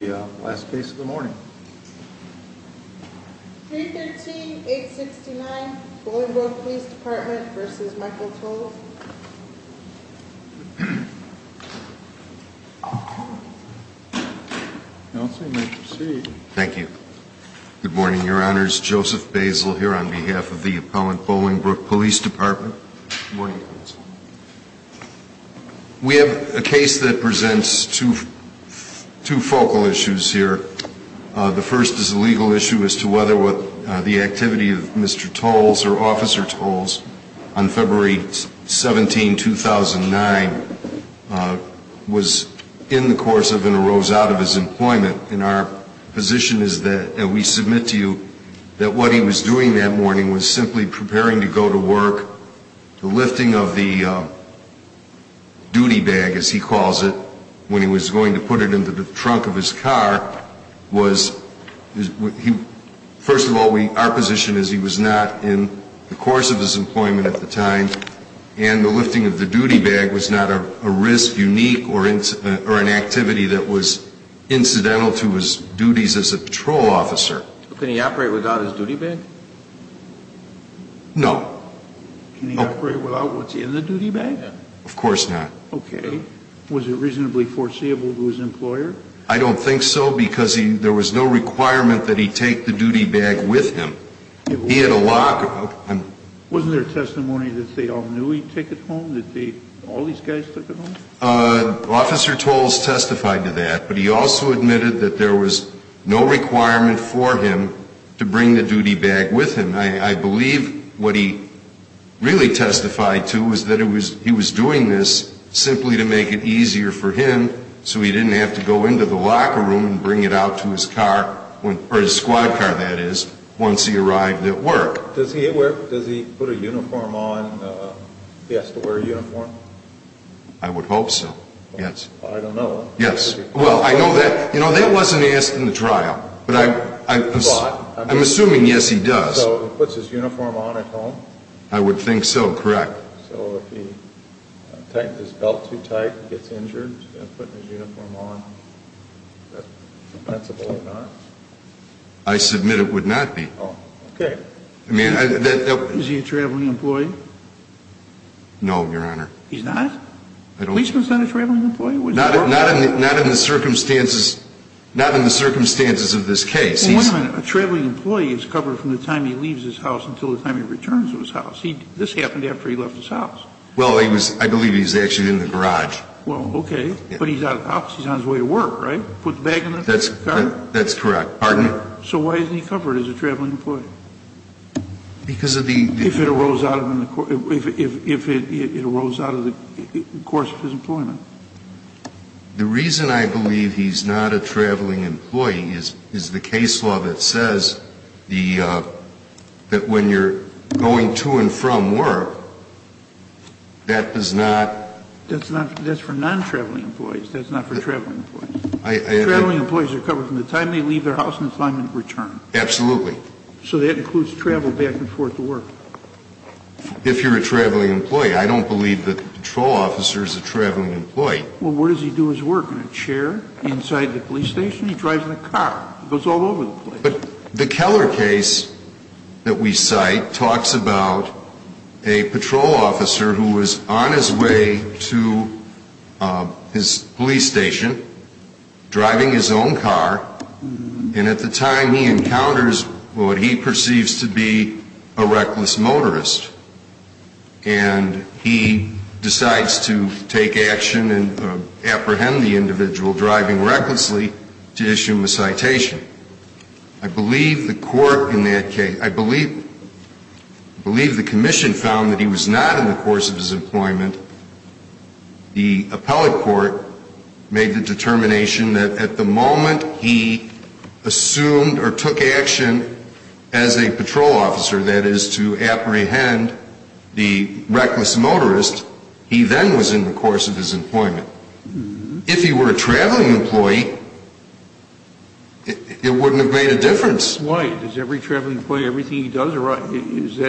the last case of the morning. 313-869 Bolingbrook Police Department v. Michael Tolles. Counsel, you may proceed. Thank you. Good morning, Your Honors. Joseph Basil here on behalf of the appellant Bolingbrook Police Department. Good morning, Counsel. We have a case that presents two focal issues here. The first is a legal issue as to whether what the activity of Mr. Tolles or Officer Tolles on February 17, 2009, was in the course of and arose out of his employment. And our position is that, and we submit to you, that what he was doing that morning was simply preparing to go to work. The lifting of the duty bag, as he calls it, when he was going to put it into the trunk of his car was, first of all, our position is he was not in the course of his employment at the time, and the lifting of the duty bag was not a risk unique or an activity that was incidental to his duties as a patrol officer. Can he operate without his duty bag? No. Can he operate without what's in the duty bag? Of course not. Okay. Was it reasonably foreseeable to his employer? I don't think so, because there was no requirement that he take the duty bag with him. He had a lock. Wasn't there testimony that they all knew he'd take it home, that all these guys took it home? Officer Tolles testified to that, but he also admitted that there was no requirement for him to bring the duty bag with him. I believe what he really testified to was that he was doing this simply to make it easier for him so he didn't have to go into the locker room and bring it out to his car, or his squad car, that is, once he arrived at work. Does he wear, does he put a uniform on, he has to wear a uniform? I would hope so, yes. I don't know. Yes. Well, I know that, you know, that wasn't asked in the trial, but I'm assuming, yes, he does. So he puts his uniform on at home? I would think so, correct. So if he tightens his belt too tight and gets injured, does he have to wear a uniform on? That's a possibility. I submit it would not be. Oh, okay. Is he a traveling employee? No, Your Honor. He's not? I don't believe so. He's not a traveling employee? Not in the circumstances, not in the circumstances of this case. A traveling employee is covered from the time he leaves his house until the time he returns to his house. This happened after he left his house. Well, I believe he's actually in the garage. Well, okay, but he's out of the house, he's on his way to work, right? Put the bag in the car? That's correct. Pardon? So why isn't he covered as a traveling employee? Because of the... If it arose out of the course of his employment. The reason I believe he's not a traveling employee is the case law that says the, that when you're going to and from work, that is not... That's not, that's for non-traveling employees. That's not for traveling employees. I, I... Traveling employees are covered from the time they leave their house until the time they return. Absolutely. So that includes travel back and forth to work? If you're a traveling employee, I don't believe the patrol officer is a traveling employee. Well, where does he do his work? In a chair? Inside the police station? He drives in a car? He goes all over the place. But the Keller case that we cite talks about a patrol officer who was on his way to his police station, driving his own car, and at the time he encounters what he perceives to be a reckless motorist. And he decides to take action and apprehend the individual driving recklessly to issue him a citation. I believe the court in that in the course of his employment, the appellate court made the determination that at the moment he assumed or took action as a patrol officer, that is to apprehend the reckless motorist, he then was in the course of his employment. If he were a traveling employee, it wouldn't have made a difference. Why? Does every traveling employee, everything that they do, they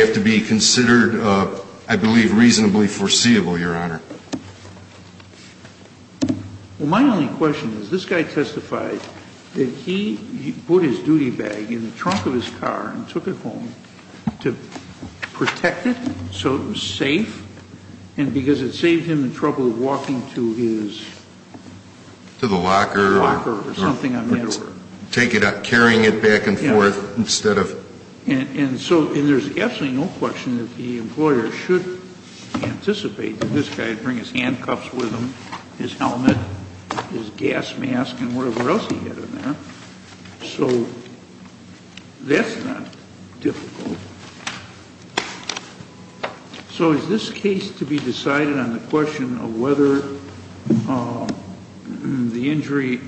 have to be considered, I believe, reasonably foreseeable, Your Honor. Well, my only question is, this guy testified that he put his duty bag in the trunk of his car and took it home to protect it so it was safe, and because it saved him the trouble of walking to his... To the locker? Locker or something on that order. Take it out, carrying it back and forth instead of... And so, and there's absolutely no question that the employer should anticipate that this guy would bring his handcuffs with him, his helmet, his gas mask, and whatever else he had in there. So that's not difficult. So is this case to be decided on the question of whether the injury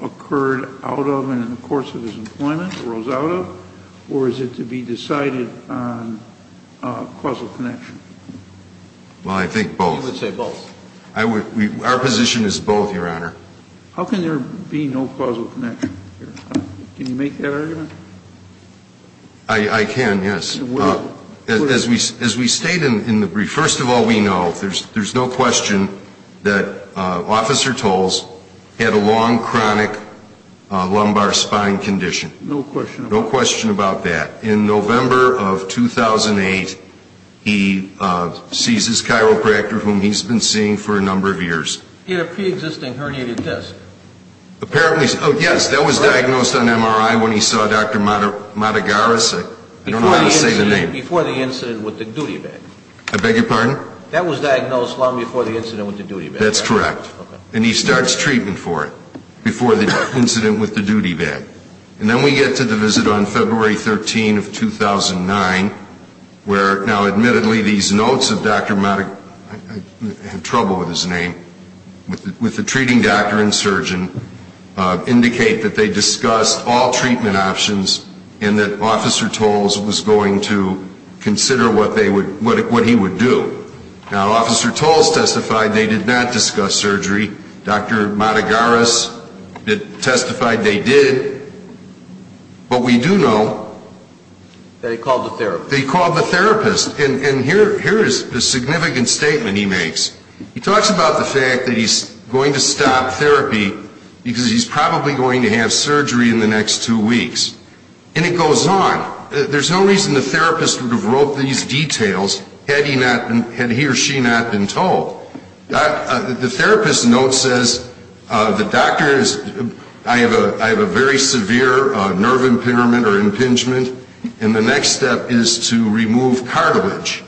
occurred out of and in the course of his employment, arose out of, or is it to be decided on causal connection? Well, I think both. You would say both? Our position is both, Your Honor. How can there be no causal connection? Can you make that argument? I can, yes. Well... As we state in the brief, first of all, we know, there's no question that Officer Toles had a long, chronic lumbar spine condition. No question about that. No question about that. In November of 2008, he sees his chiropractor, whom he's been seeing for a number of years. He had a pre-existing herniated disc. Apparently... Oh, yes, that was diagnosed on MRI when he saw Dr. Matagaris. I don't know how to say the name. Before the incident with the duty bag. I beg your pardon? That was diagnosed long before the incident with the duty bag. That's correct. Okay. And he starts treatment for it, before the incident with the duty bag. And then we get to the visit on February 13 of 2009, where now admittedly these notes of Dr. Matag... I have trouble with his name... with the treating doctor and surgeon, indicate that they discussed all treatment options and that Officer Toles was going to consider what they would... what he would do. Now, Officer Toles testified they did not discuss surgery. Dr. Matagaris testified they did. But we do know... That he called the therapist. That he called the therapist. And here is the significant statement he makes. He talks about the fact that he's going to stop therapy because he's probably going to have surgery in the next two weeks. And it goes on. There's no reason the therapist would have wrote these details had he not been... had he or she not been told. The therapist's note says the doctor is... I have a... I have a very severe nerve impairment or impingement. And the next step is to remove cartilage.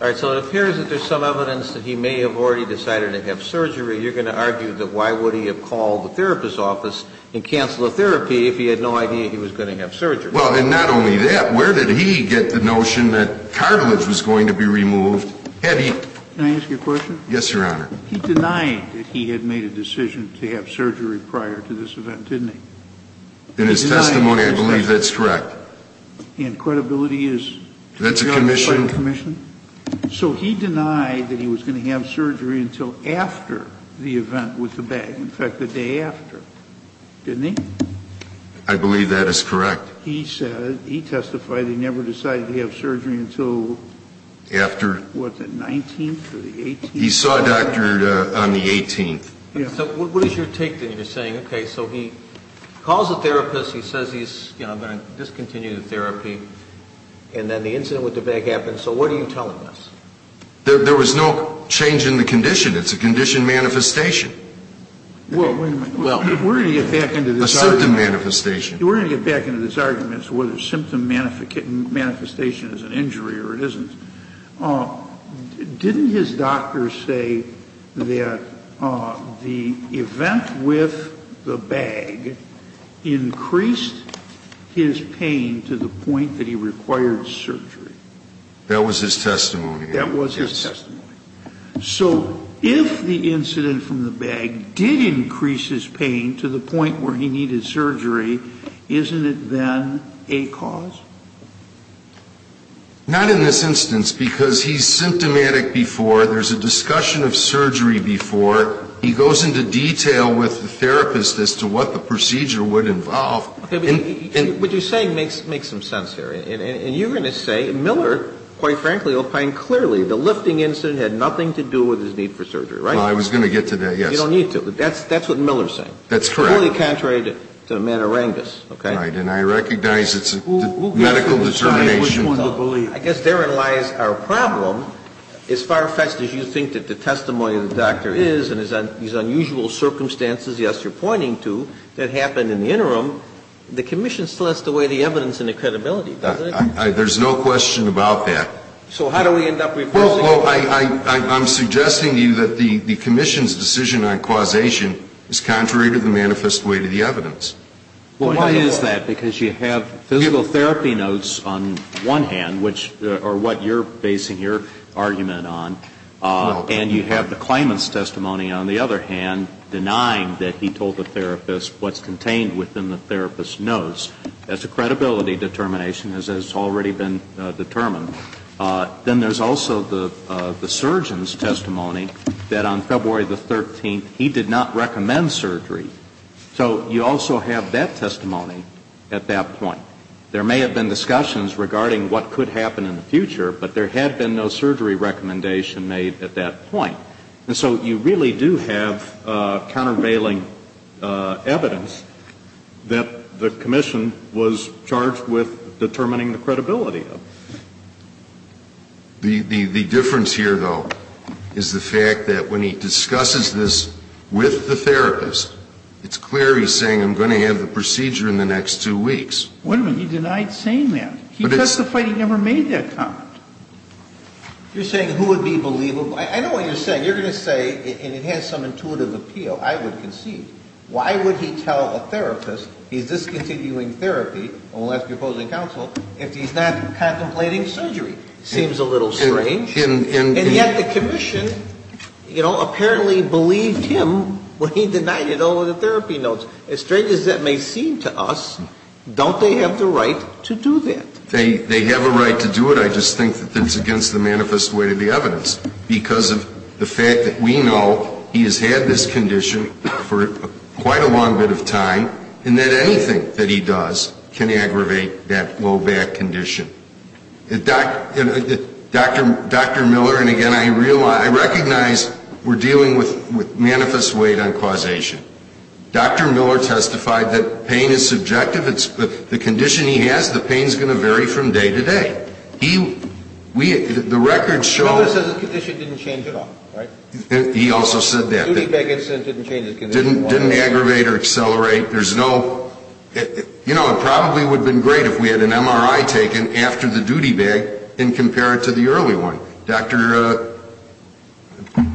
All right. So it appears that there's some evidence that he may have already decided to have surgery. You're going to argue that why would he have called the therapist's office and cancel the therapy if he had no idea he was going to have surgery? Well, and not only that, where did he get the notion that cartilage was going to be removed? Had he... Can I ask you a question? Yes, Your Honor. He denied that he had made a decision to have surgery prior to this event, didn't he? In his testimony, I believe that's correct. And credibility is... That's a commission. That's a commission. So he denied that he was going to have surgery until after the after, didn't he? I believe that is correct. He said... He testified he never decided to have surgery until... After... What, the 19th or the 18th? He saw a doctor on the 18th. So what is your take then? You're saying, okay, so he calls the therapist, he says he's, you know, going to discontinue the therapy, and then the incident with the bag happens. So what are you telling us? There was no change in the condition. It's a condition manifestation. Well, wait a minute. We're going to get back into this argument. A symptom manifestation. We're going to get back into this argument as to whether symptom manifestation is an injury or it isn't. Didn't his doctor say that the event with the bag increased his pain to the point that he required surgery? That was his testimony. That was his testimony. Yes. So if the incident from the bag did increase his pain to the point where he needed surgery, isn't it then a cause? Not in this instance, because he's symptomatic before. There's a discussion of surgery before. He goes into detail with the therapist as to what the procedure would involve. Okay, but what you're saying makes some sense here. And you're going to say Miller, quite frankly, will find clearly the lifting incident had nothing to do with his need for surgery, right? Well, I was going to get to that, yes. You don't need to. That's what Miller's saying. That's correct. Fully contrary to Manarangas, okay? Right, and I recognize it's a medical determination. I guess therein lies our problem. As far-fetched as you think that the testimony of the doctor is and these unusual circumstances, yes, you're pointing to, that happened in the interim, the commission still has to weigh the evidence and the credibility, doesn't it? There's no question about that. So how do we end up reversing it? I'm suggesting to you that the commission's decision on causation is contrary to the manifest weight of the evidence. Well, why is that? Because you have physical therapy notes on one hand, which are what you're basing your argument on, and you have the claimant's testimony on the other hand, denying that he told the therapist what's contained within the therapist's notes. That's a credibility determination, as has already been determined. Then there's also the surgeon's testimony that on February 13th he did not recommend surgery. So you also have that testimony at that point. There may have been discussions regarding what could happen in the future, but there had been no surgery recommendation made at that point. And so you really do have countervailing evidence that the commission was charged with determining the credibility of. The difference here, though, is the fact that when he discusses this with the therapist, it's clear he's saying I'm going to have the procedure in the next two weeks. Wait a minute. He denied saying that. He testified he never made that comment. You're saying who would be believable? I know what you're saying. You're going to say, and it has some intuitive appeal, I would concede. Why would he tell a therapist he's discontinuing therapy, and we'll ask your opposing counsel if he's not contemplating surgery? Seems a little strange. And yet the commission, you know, apparently believed him when he denied it over the therapy notes. As strange as that may seem to us, don't they have the right to do that? They have a right to do it. I just think that that's against the manifest way of the evidence because of the fact that we know he has had this condition for quite a long bit of time and that anything that he does can aggravate that low back condition. Dr. Miller, and again, I recognize we're dealing with manifest weight on causation. Dr. Miller testified that pain is subjective. The condition he has, the pain is going to vary from day to day. The records show... Miller says the condition didn't change at all, right? He also said that. The duty bag incident didn't change his condition. Didn't aggravate or accelerate. There's no... You know, it probably would have been great if we had an MRI taken after the duty bag and compared it to the early one. Dr.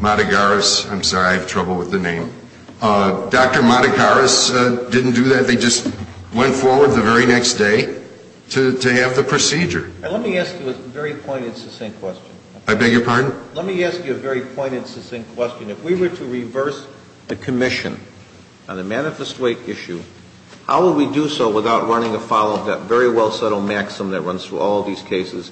Madagaris, I'm sorry, I have trouble with the name. Dr. Madagaris didn't do that. They just went forward the very next day to have the procedure. Let me ask you a very pointed, succinct question. I beg your pardon? Let me ask you a very pointed, succinct question. If we were to reverse the commission on the manifest weight issue, how would we do so without running afoul of that very well-settled maxim that runs through all these cases?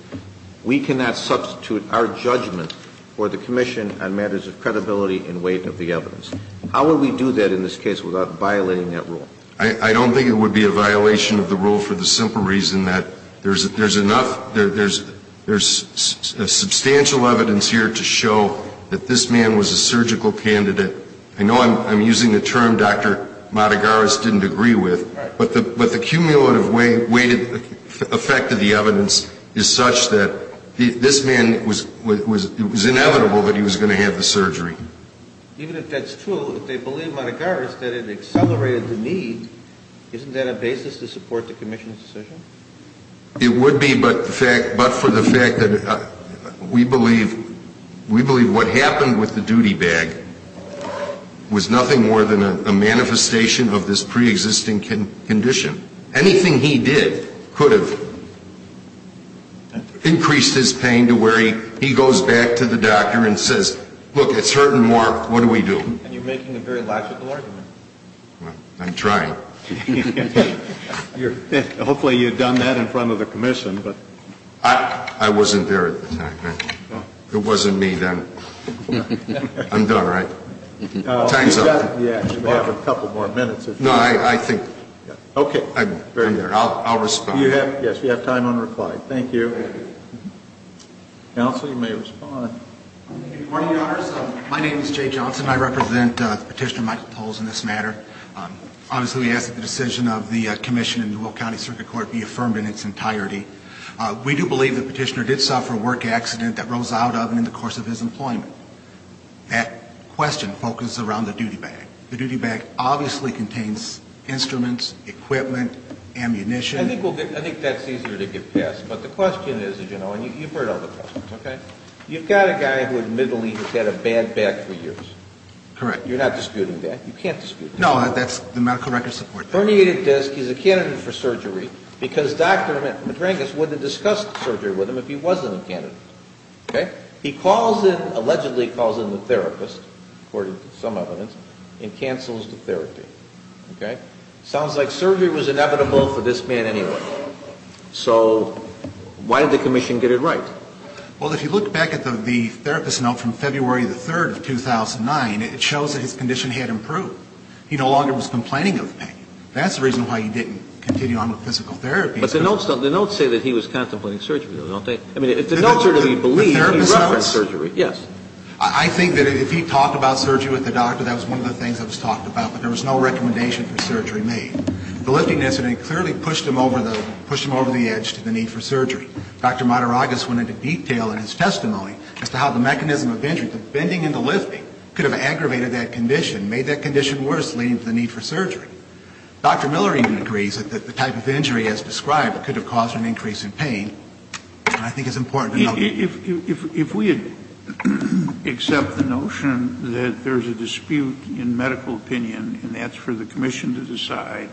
We cannot substitute our judgment for the commission on matters of credibility and weight of the evidence. How would we do that in this case without violating that rule? I don't think it would be a violation of the rule for the simple reason that there's enough... There's substantial evidence here to show that this man was a surgical candidate. I know I'm using the term Dr. Madagaris didn't agree with, but the cumulative weight effect of the evidence is such that this man was... It was inevitable that he was going to have the surgery. Even if that's true, if they believe Madagaris that it accelerated the need, isn't that a basis to support the commission's decision? It would be, but for the fact that we believe what happened with the duty bag was nothing more than a manifestation of this preexisting condition. Anything he did could have increased his pain to where he goes back to the doctor and says, look, it's hurting more. What do we do? And you're making a very logical argument. I'm trying. Hopefully you've done that in front of the commission. I wasn't there at the time. It wasn't me then. I'm done, right? Time's up. We have a couple more minutes. No, I think... Okay. I'll respond. Yes, you have time on reply. Thank you. Counsel, you may respond. Your Honor, my name is Jay Johnson. I represent Petitioner Michael Toles in this matter. Obviously, we ask that the decision of the commission in the Will County Circuit Court be affirmed in its entirety. We do believe the petitioner did suffer a work accident that rose out of and in the course of his employment. That question focuses around the duty bag. The duty bag obviously contains instruments, equipment, ammunition. I think that's easier to get past, but the question is, as you know, and you've heard all the questions, okay? You've got a guy who admittedly has had a bad back for years. Correct. You're not disputing that. You can't dispute that. No, the medical records support that. Herniated disc. He's a candidate for surgery because Dr. Madrangas wouldn't have discussed surgery with him if he wasn't a candidate, okay? He calls in, allegedly calls in the therapist, according to some evidence, and cancels the therapy, okay? Sounds like surgery was inevitable for this man anyway. So why did the commission get it right? Well, if you look back at the therapist note from February the 3rd of 2009, it shows that his condition had improved. He no longer was complaining of pain. That's the reason why he didn't continue on with physical therapy. But the notes say that he was contemplating surgery, though, don't they? I mean, the notes are to be believed. The therapist notes? Yes. I think that if he talked about surgery with the doctor, that was one of the things that was talked about, but there was no recommendation for surgery made. The lifting incident clearly pushed him over the edge to the need for surgery. Dr. Mataragos went into detail in his testimony as to how the mechanism of injury, the bending and the lifting, could have aggravated that condition, made that condition worse, leading to the need for surgery. Dr. Miller even agrees that the type of injury as described could have caused an increase in pain. I think it's important to know that. If we accept the notion that there's a dispute in medical opinion, and that's for the commission to decide,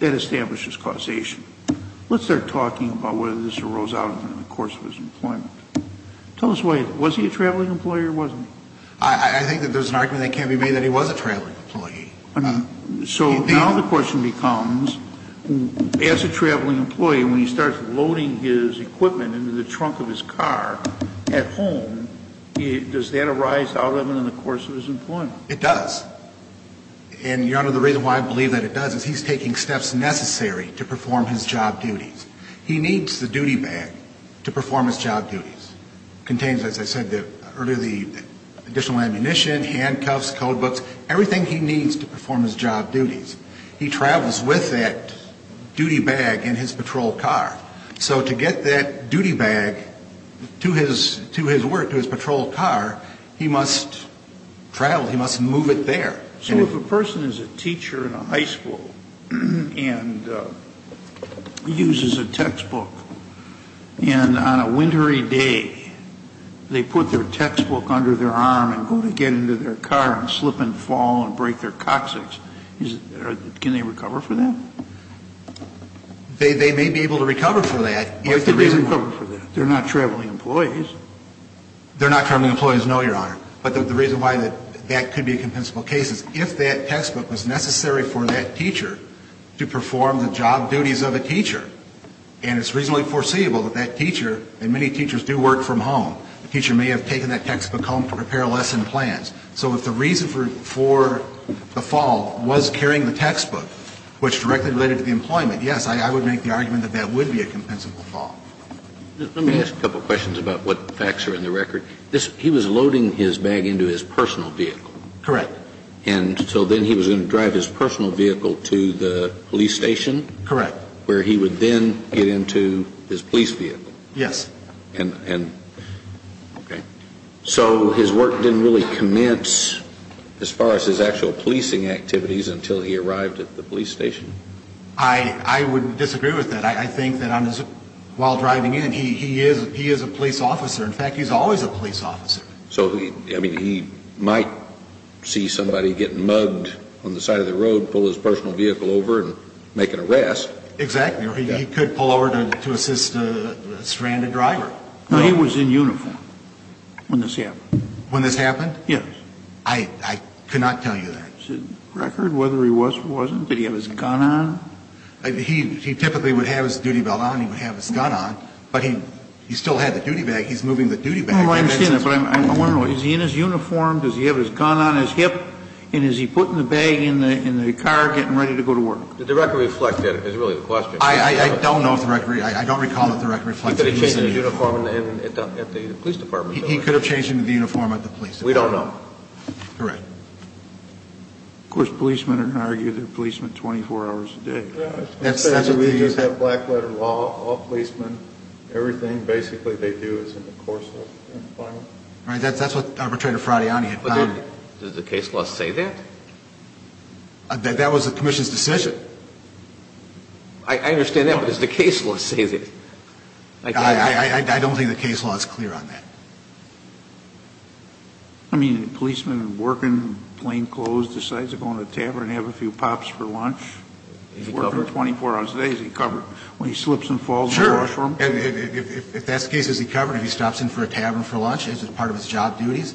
that establishes causation. Let's start talking about whether this arose out of him in the course of his employment. Tell us why. Was he a traveling employee or wasn't he? I think that there's an argument that can't be made that he was a traveling employee. So now the question becomes, as a traveling employee, when he starts loading his equipment into the trunk of his car at home, does that arise out of him in the course of his employment? It does. And, Your Honor, the reason why I believe that it does is he's taking steps necessary to perform his job duties. He needs the duty bag to perform his job duties. It contains, as I said earlier, the additional ammunition, handcuffs, code books, everything he needs to perform his job duties. He travels with that duty bag in his patrol car. So to get that duty bag to his work, to his patrol car, he must travel, he must move it there. So if a person is a teacher in a high school and uses a textbook and on a wintry day they put their textbook under their arm and go to get into their car and slip and fall and break their coccyx, can they recover for that? They may be able to recover for that. What's the reason for that? They're not traveling employees. They're not traveling employees, no, Your Honor. But the reason why that could be a compensable case is if that textbook was necessary for that teacher to perform the job duties of a teacher and it's reasonably foreseeable that that teacher, and many teachers do work from home, the teacher may have taken that textbook home to prepare lesson plans. So if the reason for the fall was carrying the textbook, which directly related to the employment, yes, I would make the argument that that would be a compensable fall. Let me ask a couple questions about what facts are in the record. He was loading his bag into his personal vehicle? Correct. And so then he was going to drive his personal vehicle to the police station? Correct. Where he would then get into his police vehicle? Yes. Okay. So his work didn't really commence as far as his actual policing activities until he arrived at the police station? I would disagree with that. I think that while driving in he is a police officer. In fact, he's always a police officer. So, I mean, he might see somebody getting mugged on the side of the road, pull his personal vehicle over and make an arrest. Exactly. Or he could pull over to assist a stranded driver. No, he was in uniform when this happened. When this happened? Yes. I could not tell you that. Is the record whether he was or wasn't? Did he have his gun on? He typically would have his duty belt on, he would have his gun on, but he still had the duty bag. He's moving the duty bag. I understand that. But I want to know, is he in his uniform? Does he have his gun on his hip? And is he putting the bag in the car getting ready to go to work? The record reflects that is really the question. I don't know if the record, I don't recall if the record reflects that. He could have changed into uniform at the police department. He could have changed into the uniform at the police department. We don't know. Correct. Of course, policemen are going to argue they're policemen 24 hours a day. We just have black letter law, all policemen, everything basically they do is in the course of employment. That's what Arbitrator Fraudiani had filed. Does the case law say that? That was the commission's decision. I understand that, but does the case law say that? I don't think the case law is clear on that. I mean, a policeman working, plane closed, decides to go into a tavern and have a few pops for lunch. He's working 24 hours a day, is he covered? When he slips and falls in the washroom? Sure. If that's the case, is he covered? If he stops in for a tavern for lunch as part of his job duties?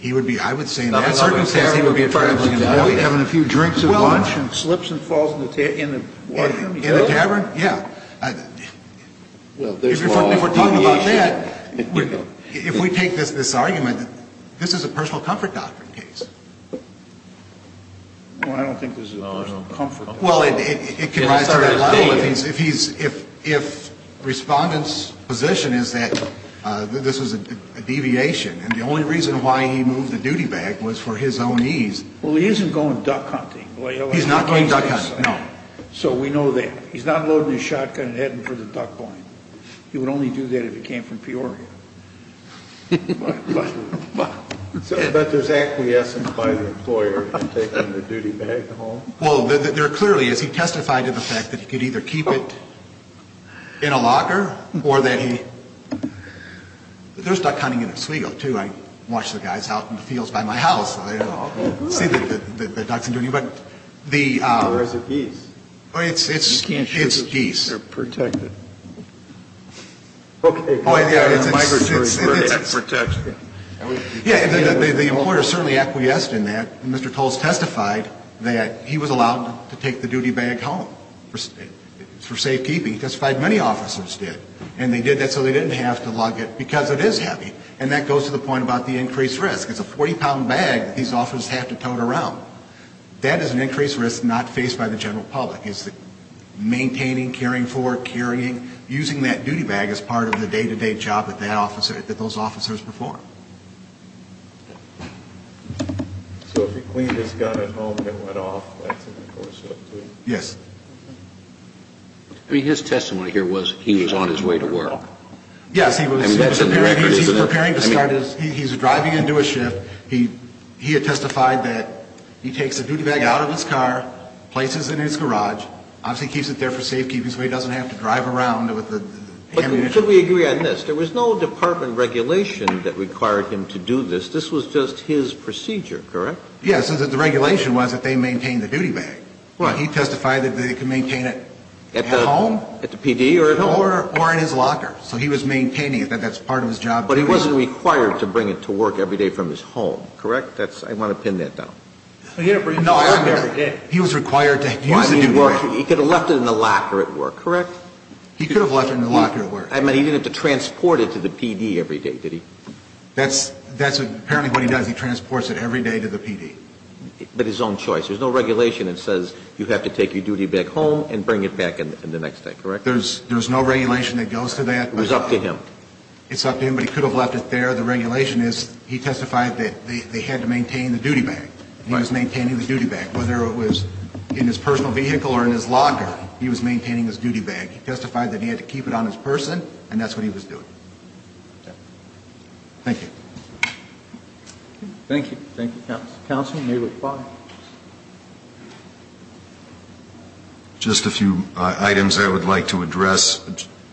He would be, I would say in that circumstance, he would be a traveling employee. Having a few drinks at lunch and slips and falls in the washroom? In the tavern, yeah. If we're talking about that, if we take this argument, this is a personal comfort doctrine case. Well, I don't think this is a personal comfort doctrine. Well, it can rise to that level if he's, if Respondent's position is that this is a deviation, and the only reason why he moved the duty bag was for his own ease. Well, he isn't going duck hunting. He's not going duck hunting, no. So we know that. He's not loading his shotgun and heading for the duck point. He would only do that if he came from Peoria. But there's acquiescence by the employer in taking the duty bag home? Well, there clearly is. He testified to the fact that he could either keep it in a locker or that he, there's duck hunting in Oswego, too. I watch the guys out in the fields by my house. I don't know. See the ducks and do anything. Or is it geese? It's geese. You can't show that they're protected. Okay. Oh, yeah, it's, it's, it's. Yeah, the employer certainly acquiesced in that. Mr. Toles testified that he was allowed to take the duty bag home for safekeeping. He testified many officers did. And they did that so they didn't have to lug it because it is heavy. And that goes to the point about the increased risk. It's a 40-pound bag that these officers have to tote around. That is an increased risk not faced by the general public. It's maintaining, caring for, carrying, using that duty bag as part of the day-to-day job that that officer, that those officers perform. So if he cleaned his gun at home and it went off, that's in the courtship, too? Yes. I mean, his testimony here was he was on his way to work. Yes, he was. He was preparing to start his, he's driving into a shift. He, he had testified that he takes the duty bag out of his car, places it in his garage, obviously keeps it there for safekeeping so he doesn't have to drive around with it. But should we agree on this? There was no department regulation that required him to do this. This was just his procedure, correct? Yes. The regulation was that they maintain the duty bag. Well, he testified that they could maintain it at home. At the PD or at home. Or in his locker. So he was maintaining it. That's part of his job. But he wasn't required to bring it to work every day from his home, correct? That's, I want to pin that down. He didn't bring it to work every day. He was required to use the duty bag. He could have left it in the locker at work, correct? He could have left it in the locker at work. I mean, he didn't have to transport it to the PD every day, did he? That's, that's apparently what he does. He transports it every day to the PD. But his own choice. There's no regulation that says you have to take your duty bag home and bring it back in the next day, correct? There's, there's no regulation that goes to that. It was up to him. It's up to him, but he could have left it there. The regulation is, he testified that they had to maintain the duty bag. He was maintaining the duty bag. Whether it was in his personal vehicle or in his locker, he was maintaining his duty bag. He testified that he had to keep it on his person, and that's what he was doing. Thank you. Thank you. Thank you, counsel. Counsel, you may reply. Just a few items I would like to address.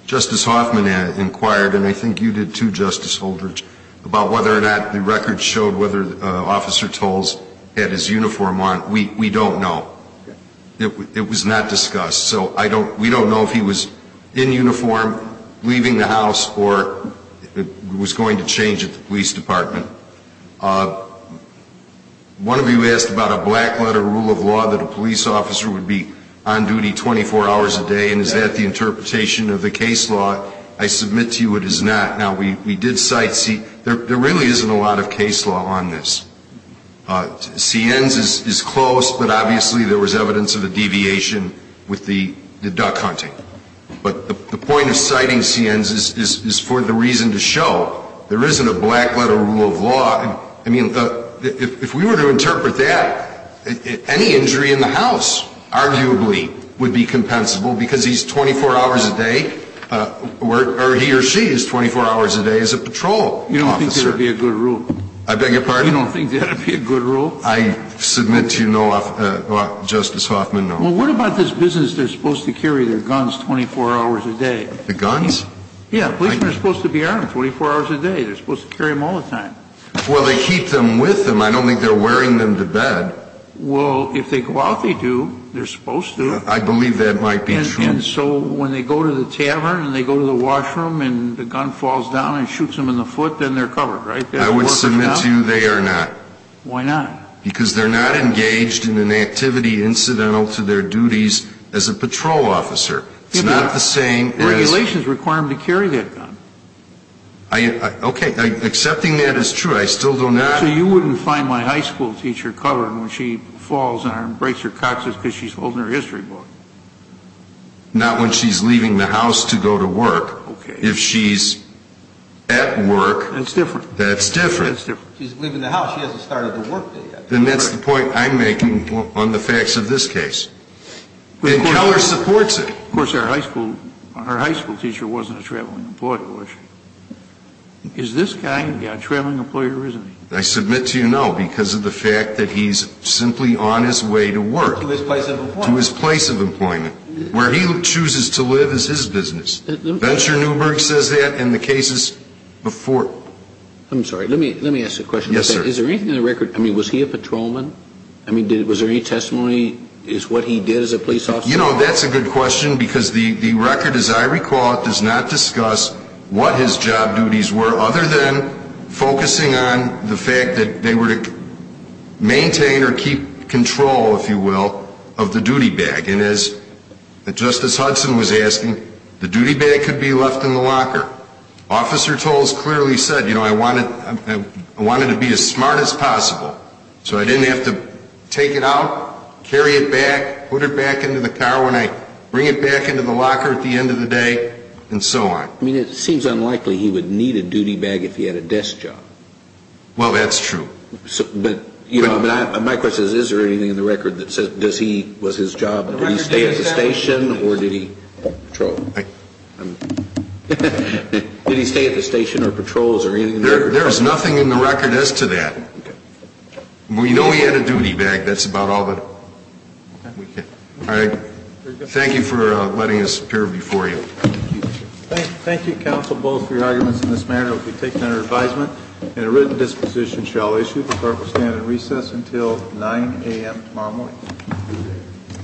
Justice Hoffman inquired, and I think you did too, Justice Holdridge, about whether or not the record showed whether Officer Toles had his uniform on. We don't know. It was not discussed. So I don't, we don't know if he was in uniform leaving the house or was going to change at the police department. One of you asked about a black letter rule of law that a police officer would be on duty 24 hours a day, and is that the interpretation of the case law? I submit to you it is not. Now, we did cite, see, there really isn't a lot of case law on this. Sienz is close, but obviously there was evidence of a deviation with the duck hunting. But the point of citing Sienz is for the reason to show there isn't a black letter rule of law. I mean, if we were to interpret that, any injury in the house arguably would be compensable because he's 24 hours a day, or he or she is 24 hours a day as a patrol officer. You don't think that would be a good rule? I beg your pardon? You don't think that would be a good rule? I submit to you no, Justice Hoffman, no. Well, what about this business they're supposed to carry their guns 24 hours a day? The guns? Yeah, policemen are supposed to be armed 24 hours a day. They're supposed to carry them all the time. Well, they keep them with them. I don't think they're wearing them to bed. Well, if they go out, they do. They're supposed to. I believe that might be true. And so when they go to the tavern, and they go to the washroom, and the gun falls down and shoots them in the foot, then they're covered, right? I would submit to you they are not. Why not? Because they're not engaged in an activity incidental to their duties as a patrol officer. It's not the same as – Regulations require them to carry that gun. Okay, accepting that is true. I still do not – So you wouldn't find my high school teacher covered when she falls and breaks her coccyx because she's holding her history book? Not when she's leaving the house to go to work. Okay. If she's at work. That's different. That's different. She's leaving the house. She hasn't started to work yet. Then that's the point I'm making on the facts of this case. And Keller supports it. Of course, our high school teacher wasn't a traveling employer, was she? Is this guy a traveling employer or isn't he? I submit to you, no, because of the fact that he's simply on his way to work. To his place of employment. To his place of employment. Where he chooses to live is his business. Venture Newberg says that in the cases before. I'm sorry. Let me ask a question. Yes, sir. Is there anything in the record – I mean, was he a patrolman? I mean, was there any testimony as to what he did as a police officer? You know, that's a good question because the record, as I recall it, does not discuss what his job duties were other than focusing on the fact that they were to maintain or keep control, if you will, of the duty bag. And as Justice Hudson was asking, the duty bag could be left in the locker. Officer Toles clearly said, you know, I wanted to be as smart as possible so I didn't have to take it out, carry it back, put it back into the car when I bring it back into the locker at the end of the day, and so on. I mean, it seems unlikely he would need a duty bag if he had a desk job. Well, that's true. But, you know, my question is, is there anything in the record that says does he – was his job – did he stay at the station or did he patrol? Did he stay at the station or patrols or anything? There is nothing in the record as to that. We know he had a duty bag. That's about all that we can – all right. Thank you for letting us appear before you. Thank you. Thank you, counsel, both for your arguments in this matter. It will be taken under advisement and a written disposition shall issue. The clerk will stand at recess until 9 a.m. tomorrow morning.